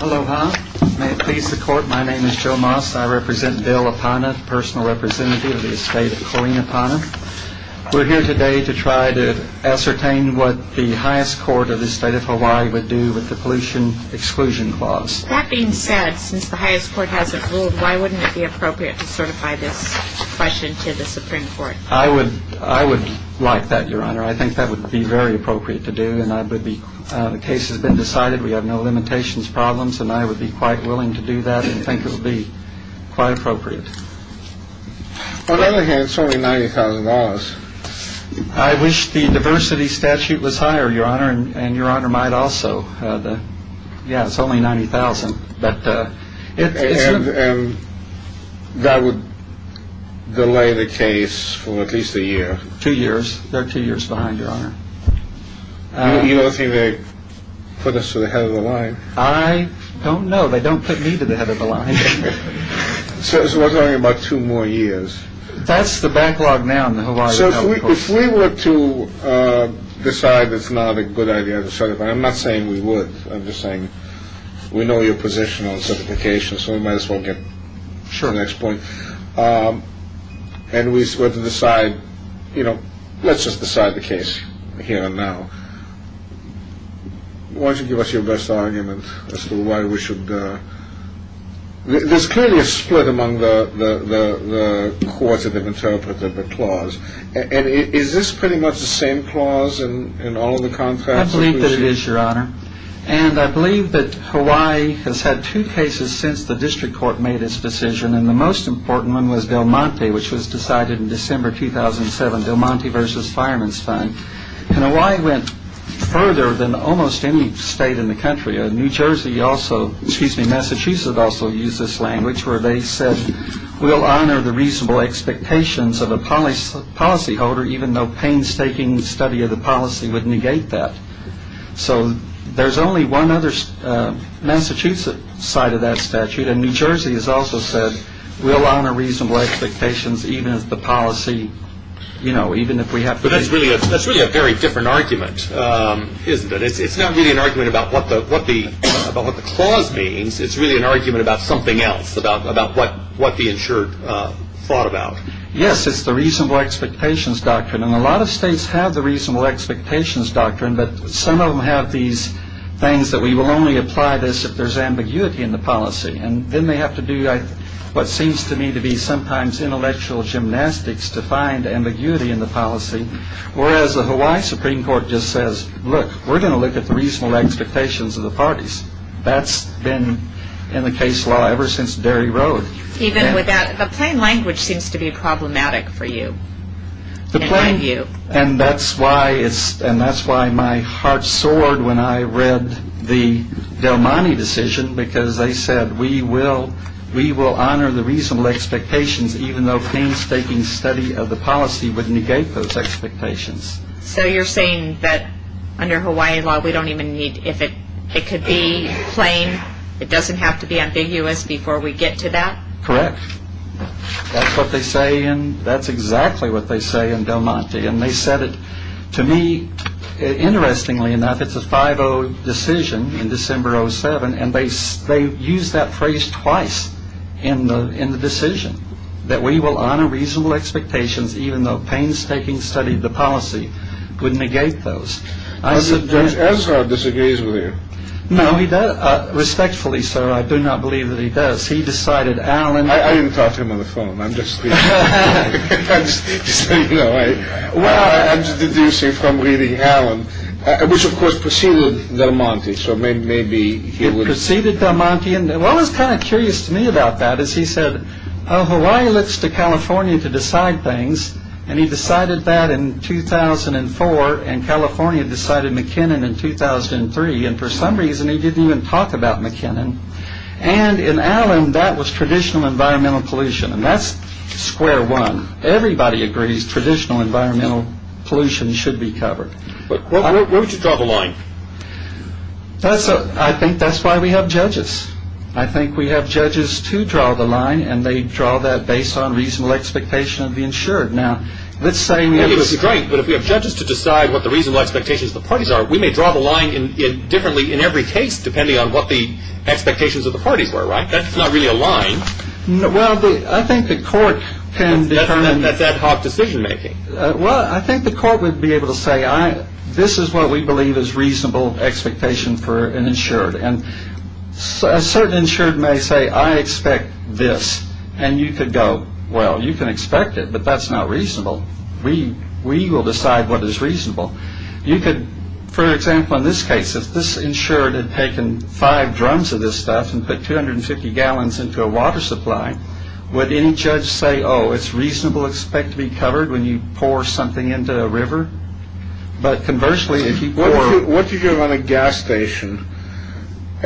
Aloha. May it please the court, my name is Joe Moss. I represent Bill Apana, personal representative of the estate of Corina Apana. We're here today to try to ascertain what the highest court of the state of Hawaii would do with the pollution exclusion clause. That being said, since the highest court hasn't ruled, why wouldn't it be appropriate to certify this question to the Supreme Court? I would like that, Your Honor. I think that would be very appropriate to do, and the case has been decided. We have no limitations, problems, and I would be quite willing to do that, and I think it would be quite appropriate. On the other hand, it's only $90,000. I wish the diversity statute was higher, Your Honor, and Your Honor might also. Yeah, it's only $90,000, but it's... And that would delay the case for at least a year. Two years. They're two years behind, Your Honor. You don't think they put us to the head of the line? I don't know. They don't put me to the head of the line. So it's only about two more years. That's the backlog now in the Hawaii... So if we were to decide it's not a good idea to certify, I'm not saying we would, I'm just saying we know your position on certification, so we might as well get to the next point, and we were to decide, you know, let's just decide the case here and now. Why don't you give us your best argument as to why we should... There's clearly a split among the courts that have interpreted the clause, and is this pretty much the same clause in all of the contracts? I believe that it is, Your Honor, and I believe that Hawaii has had two cases since the district court made its decision, and the most important one was Del Monte, which was decided in December 2007, Del Monte versus Fireman's Fund, and Hawaii went further than almost any state in the country. New Jersey also, excuse me, Massachusetts also used this language where they said we'll honor the reasonable expectations of a policyholder, even though painstaking study of the policy would negate that. So there's only one other Massachusetts side of that statute, and New Jersey has also said we'll honor reasonable expectations even if the policy, you know, even if we have to... But that's really a very different argument, isn't it? It's not really an argument about what the clause means, it's really an argument about something else, about what the insured thought about. Yes, it's the reasonable expectations doctrine, and a lot of states have the reasonable expectations doctrine, but some of them have these things that we will only apply this if there's ambiguity in the policy, and then they have to do what seems to me to be sometimes intellectual gymnastics to find ambiguity in the policy, whereas the Hawaii Supreme Court just says, look, we're going to look at the reasonable expectations of the parties. That's been in the case law ever since Derry Road. Even with that, the plain language seems to be problematic for you, in my view. And that's why my heart soared when I read the Del Monte decision, because they said we will honor the reasonable expectations even though painstaking study of the policy would negate those expectations. So you're saying that under Hawaii law, we don't even need, if it could be plain, it doesn't have to be ambiguous before we get to that? Correct. That's what they say, and that's exactly what they say in Del Monte. And they said it to me, interestingly enough, it's a 5-0 decision in December 07, and they used that phrase twice in the decision, that we will honor reasonable expectations even though painstaking study of the policy would negate those. Judge Ezra disagrees with you. No, he does. Respectfully, sir, I do not believe that he does. He decided Allen... I didn't talk to him on the phone. I'm just reading, you know, I'm just deducing from reading Allen, which of course preceded Del Monte, so maybe he would... It preceded Del Monte, and what was kind of curious to me about that is he said, oh, Hawaii looks to California to decide things, and he decided that in 2004, and California decided McKinnon in 2003, and for some reason he didn't even talk about McKinnon. And in Allen, that was traditional environmental pollution, and that's square one. Everybody agrees traditional environmental pollution should be covered. But where would you draw the line? I think that's why we have judges. I think we have judges to draw the line, and they draw that based on reasonable expectation of the insured. Now, let's say... That's right, but if we have judges to decide what the reasonable expectations of the parties are, we may draw the line differently in every case depending on what the expectations of the parties were, right? That's not really a line. Well, I think the court can determine... That's ad hoc decision making. Well, I think the court would be able to say, this is what we believe is reasonable expectation for an insured, and a certain insured may say, I expect this, and you could go, well, you can expect it, but that's not reasonable. We will decide what is reasonable. You could, for example, in this case, if this insured had taken five drums of this stuff and put 250 gallons into a water supply, would any judge say, oh, it's reasonable, expect to be covered when you pour something into a river? But conversely, if you pour...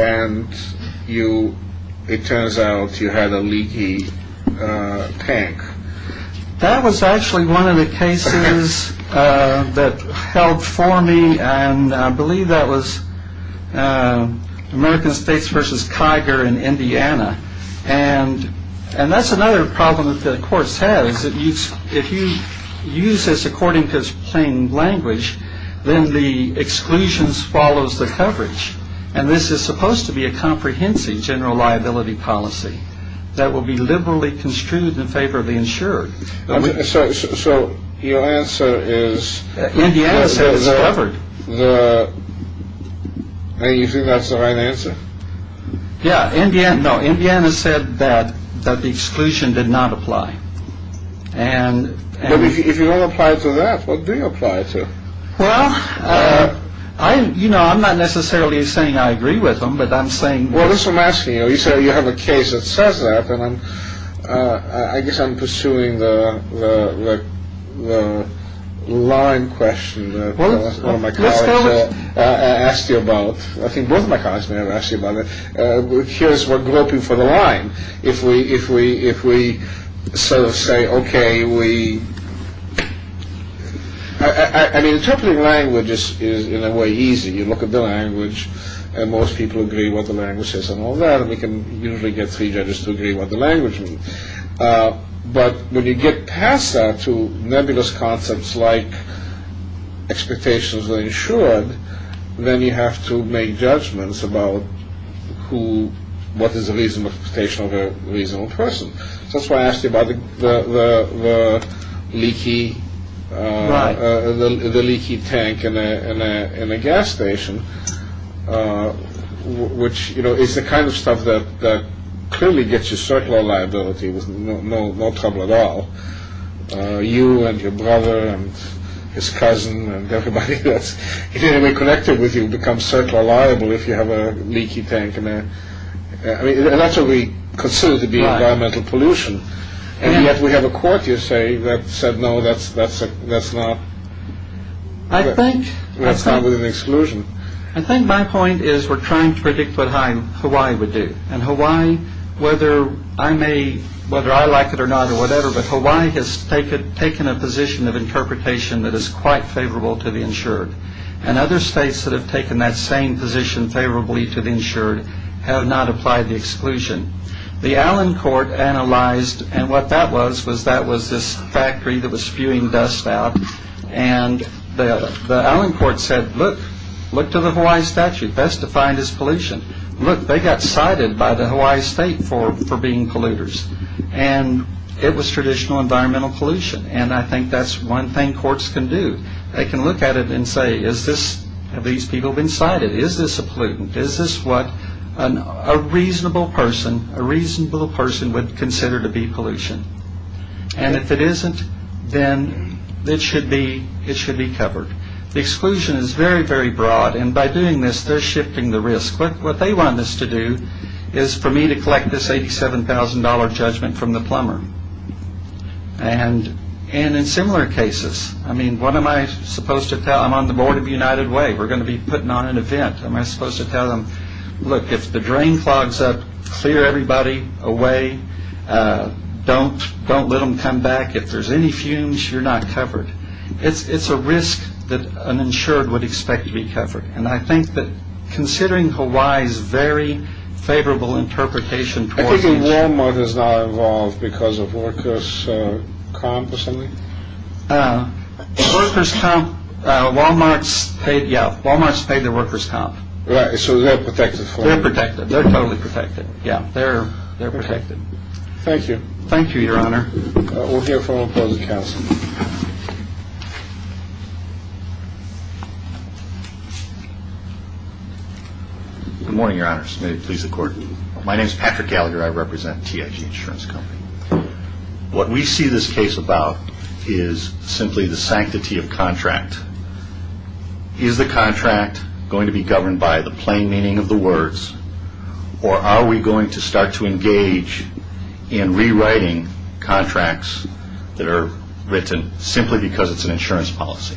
and you... it turns out you had a leaky tank. That was actually one of the cases that held for me, and I believe that was American States versus Kiger in Indiana, and that's another problem that the court says, if you use this reporting as plain language, then the exclusions follows the coverage, and this is supposed to be a comprehensive general liability policy that will be liberally construed in favor of the insured. So your answer is... Indiana said it's covered. You think that's the right answer? Yeah, Indiana... no, Indiana said that the exclusion did not apply. But if you don't apply to that, what do you apply to? Well, I... you know, I'm not necessarily saying I agree with them, but I'm saying... Well, that's what I'm asking you. You say you have a case that says that, and I'm... I guess I'm pursuing the line question that one of my colleagues asked you about. I think both of my colleagues may have asked you about it. Here's what grew up in front of the line. If we sort of say, okay, we... I mean, interpreting language is, in a way, easy. You look at the language, and most people agree what the language is and all that, and we can usually get three judges to agree what the language means. But when you get past that to nebulous concepts like expectations of the insured, then you have to make judgments about who... what is the reasonable expectation of a reasonable person. So that's why I asked you about the leaky tank in a gas station, which, you know, is the kind of stuff that clearly gets you circular liability with no trouble at all. You and your brother and his cousin and everybody that's in any way connected with you becomes circular liable if you have a leaky tank in there. I mean, and that's what we consider to be environmental pollution. And yet we have a court, you say, that said, no, that's not... I think... That's not within exclusion. I think my point is we're trying to predict what Hawaii would do. And Hawaii, whether I may... whether I like it or not or whatever, but Hawaii has taken a position of interpretation that is quite favorable to the insured. And other states that have taken that same position favorably to the insured have not applied the exclusion. The Allen Court analyzed, and what that was, was that was this factory that was spewing dust out. And the Allen Court said, look, look to the Hawaii statute, best defined as pollution. Look, they got cited by the Hawaii state for being polluters. And it was traditional environmental pollution. And I think that's one thing courts can do. They can look at it and say, is this... have these people been cited? Is this a pollutant? Is this what a reasonable person, a reasonable person would consider to be pollution? And if it isn't, then it should be covered. The exclusion is very, very broad. And by doing this, they're shifting the risk. What they want us to do is for me to collect this $87,000 judgment from the plumber. And in similar cases, I mean, what am I supposed to tell... I'm on the board of United Way. We're going to be putting on an event. Am I supposed to tell them, look, if the drain clogs up, clear everybody away. Don't let them come back. If there's any fumes, you're not covered. It's a risk that an insured would expect to be covered. And I think that considering Hawaii's very favorable interpretation towards... I think Walmart is not involved because of workers' comp or something. Workers' comp. Walmart's paid. Yeah. Walmart's paid the workers' comp. Right. So they're protected. They're protected. They're totally protected. Yeah. They're protected. Thank you. Thank you, Your Honor. We'll hear from the opposing counsel. Good morning, Your Honors. May it please the Court. My name is Patrick Gallagher. I represent TIG Insurance Company. What we see this case about is simply the sanctity of contract. Is the contract going to be governed by the plain meaning of the words, or are we going to start to engage in rewriting contracts that are written simply because it's an insurance policy?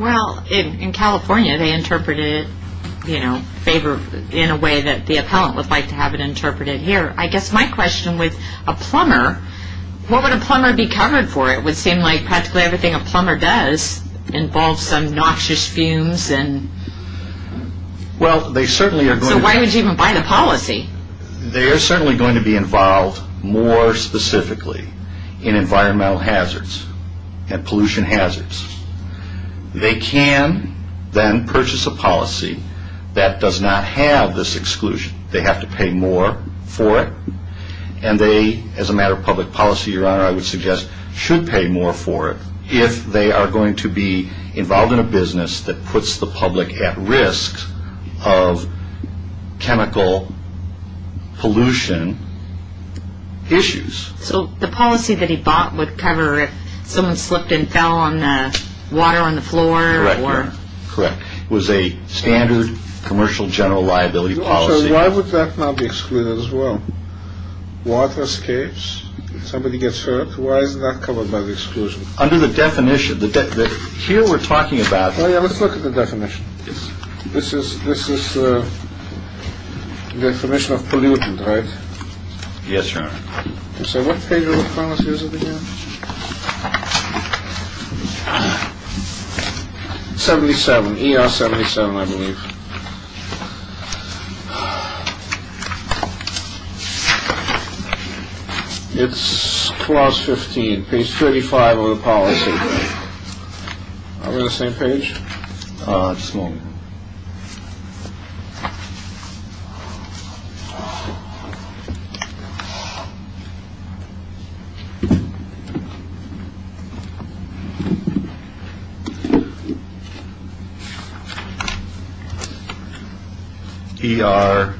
Well, in California, they interpreted it, you know, in a way that the appellant would like to have it interpreted here. I guess my question with a plumber, what would a plumber be covered for? It would seem like practically everything a plumber does involves some noxious fumes. Well, they certainly are going to be. So why would you even buy the policy? They are certainly going to be involved more specifically in environmental hazards and pollution hazards. They can then purchase a policy that does not have this exclusion. They have to pay more for it, and they, as a matter of public policy, Your Honor, I would suggest should pay more for it if they are going to be involved in a business that puts the public at risk of chemical pollution issues. So the policy that he bought would cover if someone slipped and fell on the water on the floor? Correct. It was a standard commercial general liability policy. Why would that not be excluded as well? Water escapes, if somebody gets hurt, why is that covered by the exclusion? Under the definition, here we're talking about. Let's look at the definition. This is the definition of pollutant, right? Yes, Your Honor. So what page of the policy is it again? 77, ER 77, I believe. It's class 15, page 35 of the policy. I'm on the same page. Just a moment. ER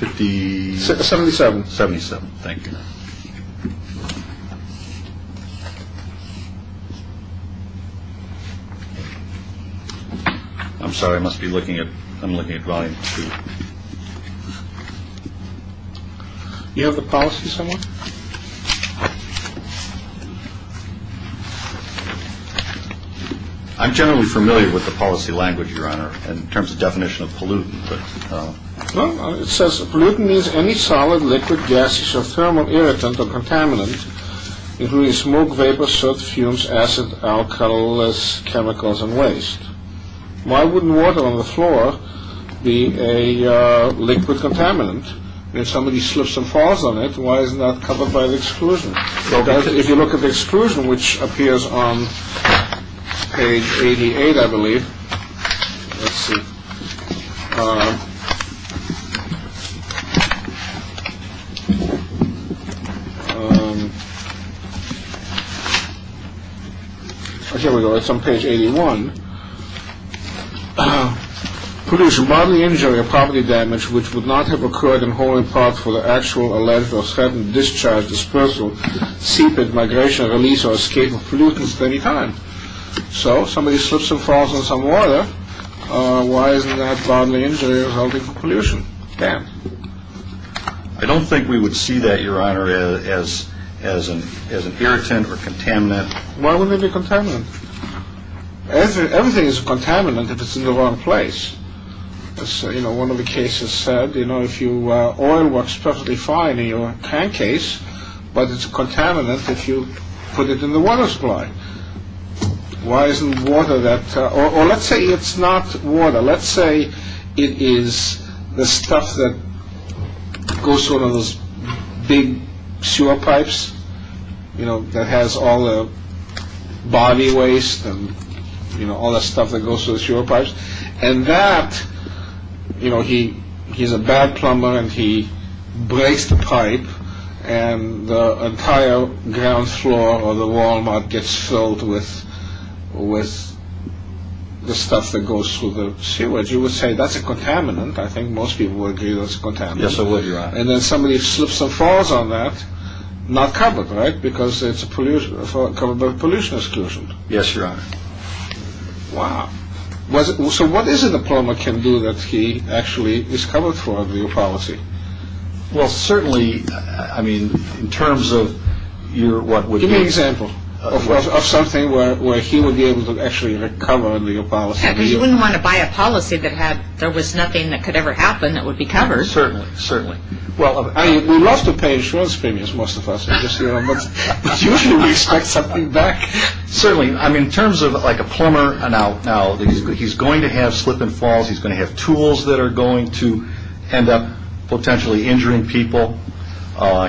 57777. Thank you. I'm sorry, I must be looking at, I'm looking at volume two. You have the policy somewhere? I'm generally familiar with the policy language, Your Honor, in terms of definition of pollutant. It says pollutant means any solid, liquid, gaseous or thermal irritant or contaminant, including smoke, vapor, soot, fumes, acid, alcohol, chemicals and waste. Why wouldn't water on the floor be a liquid contaminant? If somebody slips and falls on it, why is that covered by the exclusion? If you look at the exclusion, which appears on page 88, I believe. Let's see. Here we go. It's on page 81. Pollution, bodily injury or property damage, which would not have occurred in holding parts for the actual alleged or sudden discharge, dispersal, seepage, migration, release or escape of pollutants at any time. So somebody slips and falls on some water. Why isn't that bodily injury or holding pollution? I don't think we would see that, Your Honor, as an irritant or contaminant. Why wouldn't it be a contaminant? Everything is a contaminant if it's in the wrong place. As one of the cases said, oil works perfectly fine in your tank case, but it's a contaminant if you put it in the water supply. Why isn't water that, or let's say it's not water. Let's say it is the stuff that goes through one of those big sewer pipes, you know, that has all the body waste and, you know, all the stuff that goes through the sewer pipes. And that, you know, he's a bad plumber and he breaks the pipe and the entire ground floor or the wall gets filled with the stuff that goes through the sewage. You would say that's a contaminant. I think most people would agree that's a contaminant. Yes, they would, Your Honor. And then somebody slips and falls on that, not covered, right? Because it's covered by a pollution exclusion. Yes, Your Honor. Wow. So what is it a plumber can do that he actually is covered for under your policy? Well, certainly, I mean, in terms of your what would be... Give me an example of something where he would be able to actually recover under your policy. Yeah, because you wouldn't want to buy a policy that had, there was nothing that could ever happen that would be covered. Certainly, certainly. Well, we love to pay insurance premiums, most of us, but usually we expect something back. Certainly. I mean, in terms of like a plumber, now, he's going to have slip and falls. He's going to have tools that are going to end up potentially injuring people.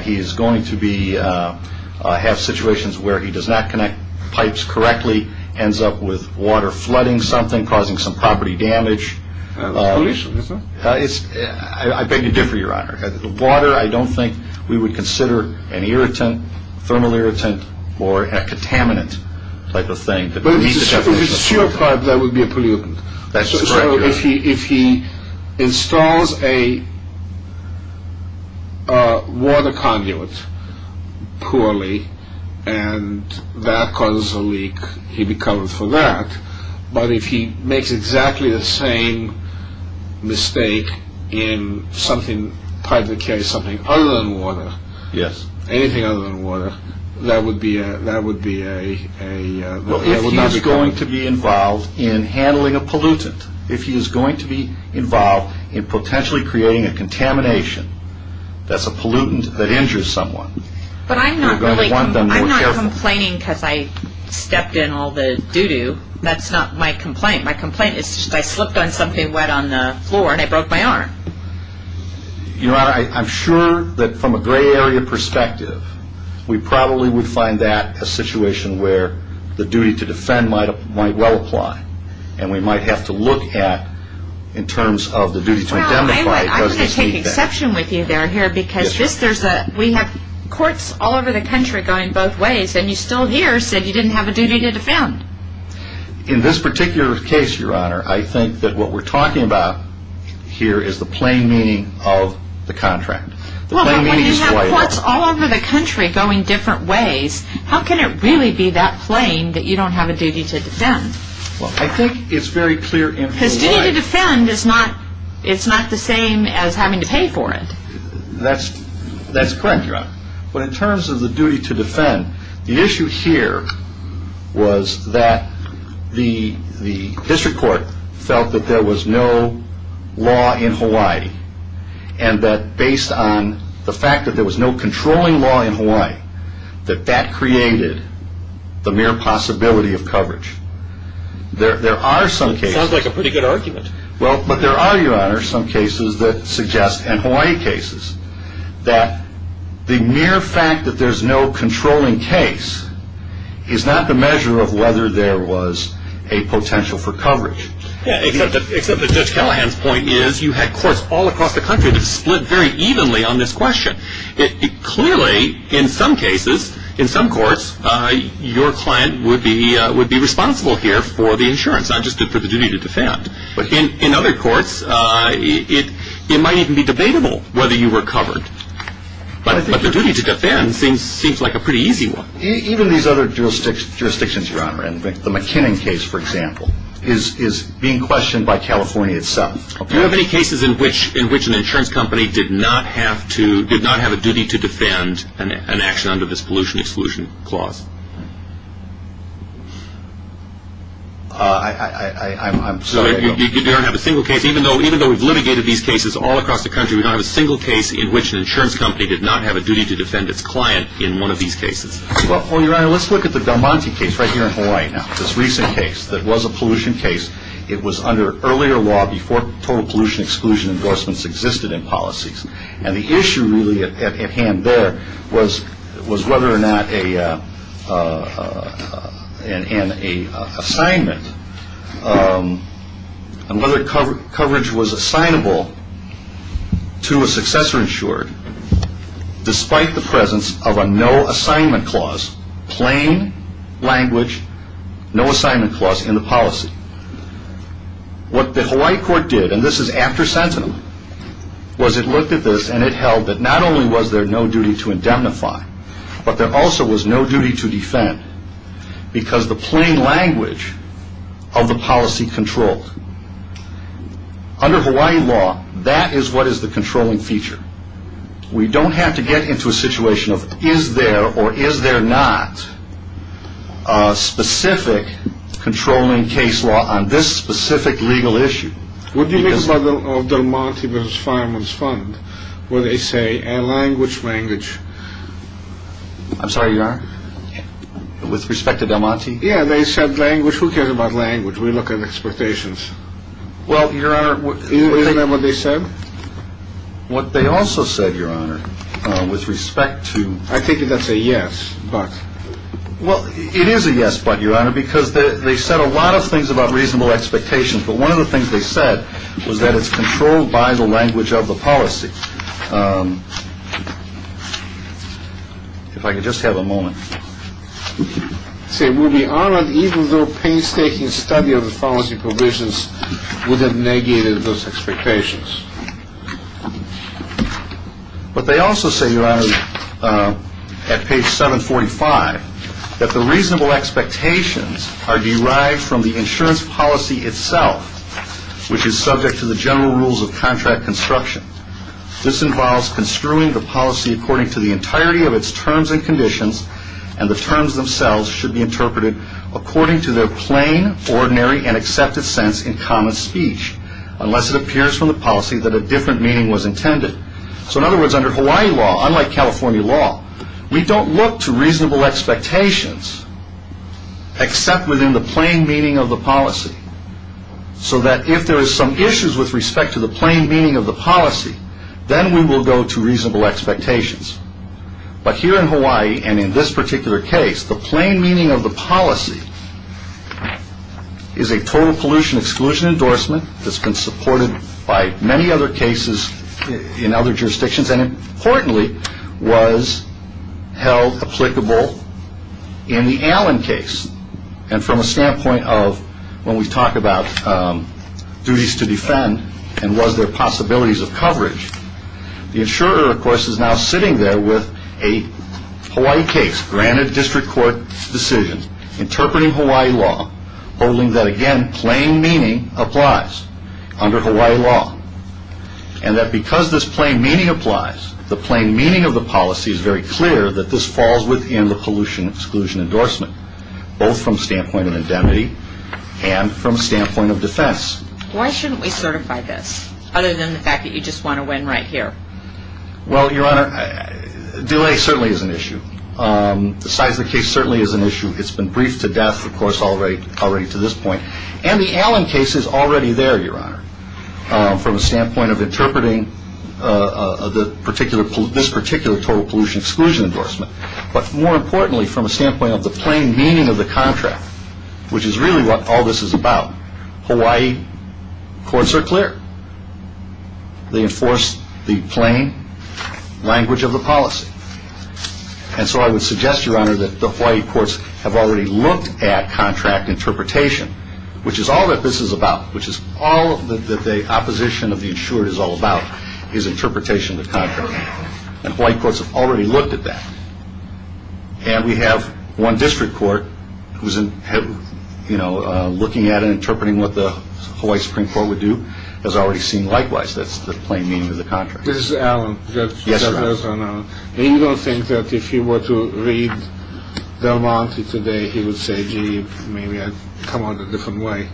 He is going to have situations where he does not connect pipes correctly, ends up with water flooding something, causing some property damage. Pollution, is it? I beg to differ, Your Honor. Water, I don't think we would consider an irritant, thermal irritant, or a contaminant type of thing. But if it's a sewer pipe, that would be a pollutant. That's correct, Your Honor. So if he installs a water conduit poorly and that causes a leak, he'd be covered for that. But if he makes exactly the same mistake in something, a pipe that carries something other than water, anything other than water, that would be a, that would not be covered. Well, if he is going to be involved in handling a pollutant, if he is going to be involved in potentially creating a contamination that's a pollutant that injures someone, I'm not complaining because I stepped in all the doo-doo. That's not my complaint. My complaint is I slipped on something wet on the floor and I broke my arm. Your Honor, I'm sure that from a gray area perspective, we probably would find that a situation where the duty to defend might well apply, and we might have to look at in terms of the duty to identify it. I think there's a misconception with you there, here, because we have courts all over the country going both ways, and you still here said you didn't have a duty to defend. In this particular case, Your Honor, I think that what we're talking about here is the plain meaning of the contract. Well, but when you have courts all over the country going different ways, how can it really be that plain that you don't have a duty to defend? Well, I think it's very clear in real life. A duty to defend is not the same as having to pay for it. That's correct, Your Honor. But in terms of the duty to defend, the issue here was that the district court felt that there was no law in Hawaii, and that based on the fact that there was no controlling law in Hawaii, that that created the mere possibility of coverage. There are some cases... Sounds like a pretty good argument. Well, but there are, Your Honor, some cases that suggest, and Hawaii cases, that the mere fact that there's no controlling case is not the measure of whether there was a potential for coverage. Except that Judge Callahan's point is you had courts all across the country that split very evenly on this question. Clearly, in some cases, in some courts, your client would be responsible here for the insurance, not just for the duty to defend. But in other courts, it might even be debatable whether you were covered. But the duty to defend seems like a pretty easy one. Even these other jurisdictions, Your Honor, the McKinnon case, for example, is being questioned by California itself. Do you have any cases in which an insurance company did not have to, did not have a duty to defend an action under this pollution exclusion clause? I'm sorry. You don't have a single case, even though we've litigated these cases all across the country, we don't have a single case in which an insurance company did not have a duty to defend its client in one of these cases. Well, Your Honor, let's look at the Galmanti case right here in Hawaii now, this recent case that was a pollution case. It was under earlier law before total pollution exclusion endorsements existed in policies. And the issue really at hand there was whether or not an assignment, and whether coverage was assignable to a successor insured, despite the presence of a no assignment clause, plain language, no assignment clause in the policy. What the Hawaii court did, and this is after sentencing, was it looked at this and it held that not only was there no duty to indemnify, but there also was no duty to defend because the plain language of the policy controlled. Under Hawaii law, that is what is the controlling feature. We don't have to get into a situation of is there or is there not a specific controlling case law on this specific legal issue. What do you think of Galmanti vs. Fireman's Fund where they say a language language? I'm sorry, Your Honor? With respect to Galmanti? Yeah, they said language, who cares about language? We look at expectations. Well, Your Honor, isn't that what they said? What they also said, Your Honor, with respect to... I take it that's a yes, but... Well, it is a yes, but, Your Honor, because they said a lot of things about reasonable expectations, but one of the things they said was that it's controlled by the language of the policy. If I could just have a moment. See, we'll be honored even though painstaking study of the policy provisions would have negated those expectations. But they also say, Your Honor, at page 745, that the reasonable expectations are derived from the insurance policy itself, which is subject to the general rules of contract construction. This involves construing the policy according to the entirety of its terms and conditions, and the terms themselves should be interpreted according to their plain, ordinary, and accepted sense in common speech, unless it appears from the policy that a different meaning was intended. So, in other words, under Hawaii law, unlike California law, we don't look to reasonable expectations except within the plain meaning of the policy, so that if there is some issues with respect to the plain meaning of the policy, then we will go to reasonable expectations. But here in Hawaii, and in this particular case, the plain meaning of the policy is a total pollution exclusion endorsement that's been supported by many other cases in other jurisdictions, and importantly, was held applicable in the Allen case. And from a standpoint of when we talk about duties to defend, and was there possibilities of coverage, the insurer, of course, is now sitting there with a Hawaii case, granted district court decision, interpreting Hawaii law, holding that, again, plain meaning applies under Hawaii law, and that because this plain meaning applies, the plain meaning of the policy is very clear that this falls within the pollution exclusion endorsement, both from a standpoint of indemnity and from a standpoint of defense. Why shouldn't we certify this, other than the fact that you just want to win right here? Well, Your Honor, delay certainly is an issue. The size of the case certainly is an issue. It's been briefed to death, of course, already to this point. And the Allen case is already there, Your Honor, from a standpoint of interpreting this particular total pollution exclusion endorsement, but more importantly, from a standpoint of the plain meaning of the contract, which is really what all this is about, Hawaii courts are clear. They enforce the plain language of the policy. And so I would suggest, Your Honor, that the Hawaii courts have already looked at contract interpretation, which is all that this is about, which is all that the opposition of the insured is all about, is interpretation of the contract. And Hawaii courts have already looked at that. And we have one district court who's, you know, looking at and interpreting what the Hawaii Supreme Court would do, has already seen likewise. That's the plain meaning of the contract. This is Allen. Yes, Your Honor. You know, you don't think that if he were to read Del Monte today, he would say, gee, maybe I'd come on a different way.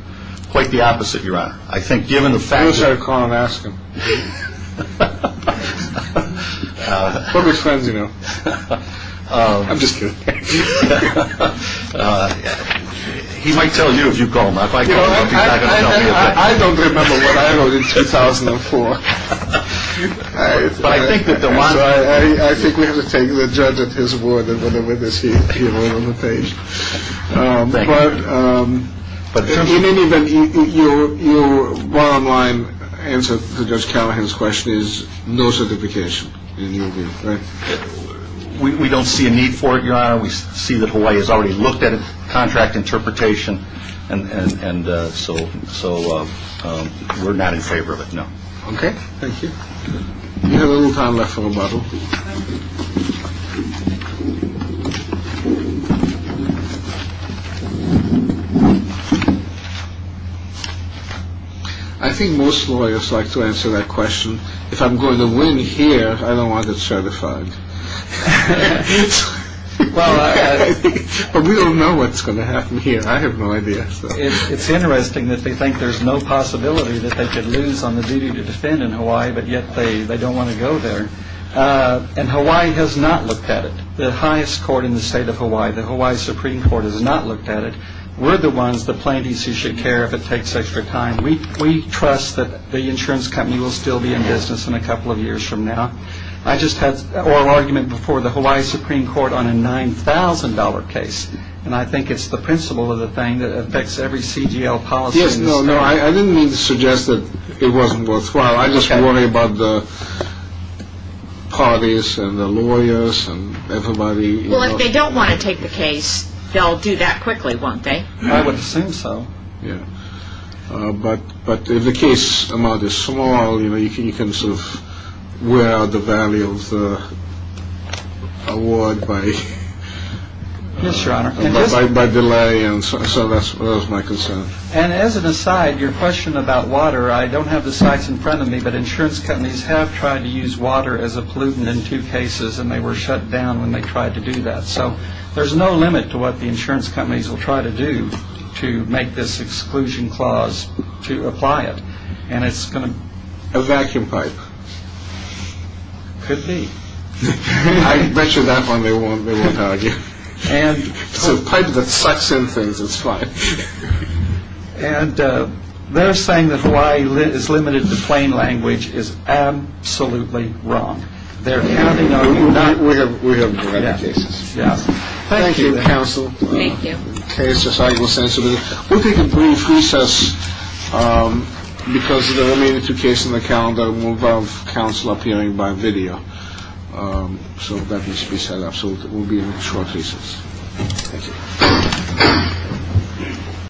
Quite the opposite, Your Honor. I think given the fact. You should call and ask him. We're good friends, you know. I'm just kidding. He might tell you if you call him. I don't remember what I wrote in 2004. But I think that Del Monte. I think we have to take the judge at his word that with the witness he wrote on the page. But in any event, your bottom line answer to Judge Callahan's question is no certification in your view, right? We don't see a need for it, Your Honor. We see that Hawaii has already looked at contract interpretation, and so we're not in favor of it, no. OK. Thank you. We have a little time left for a bubble. I think most lawyers like to answer that question. If I'm going to win here, I don't want it certified. But we don't know what's going to happen here. I have no idea. It's interesting that they think there's no possibility that they could lose on the duty to defend in Hawaii, but yet they don't want to go there. And Hawaii has not looked at it. The highest court in the state of Hawaii, the Hawaii Supreme Court, has not looked at it. We're the ones, the plaintiffs, who should care if it takes extra time. We trust that the insurance company will still be in business in a couple of years from now. I just had an oral argument before the Hawaii Supreme Court on a $9,000 case, and I think it's the principle of the thing that affects every CGL policy in the state. Yes, no, no, I didn't mean to suggest that it wasn't worthwhile. I just worry about the parties and the lawyers and everybody. Well, if they don't want to take the case, they'll do that quickly, won't they? I would assume so. Yeah. But if the case amount is small, you know, you can sort of wear out the value of the award by... Yes, Your Honor. By delay, and so that's my concern. And as an aside, your question about water, I don't have the sites in front of me, but insurance companies have tried to use water as a pollutant in two cases, and they were shut down when they tried to do that. So there's no limit to what the insurance companies will try to do to make this exclusion clause to apply it. And it's going to... A vacuum pipe. Could be. I bet you that one they won't argue. It's a pipe that sucks in things. It's fine. And they're saying that Hawaii is limited to plain language is absolutely wrong. They're counting on... We have plenty of cases. Yes. Thank you, counsel. Thank you. Case is highly sensitive. We'll take a brief recess because the remaining two cases in the calendar will involve counsel appearing by video. So that needs to be set up. So it will be a short recess. Thank you.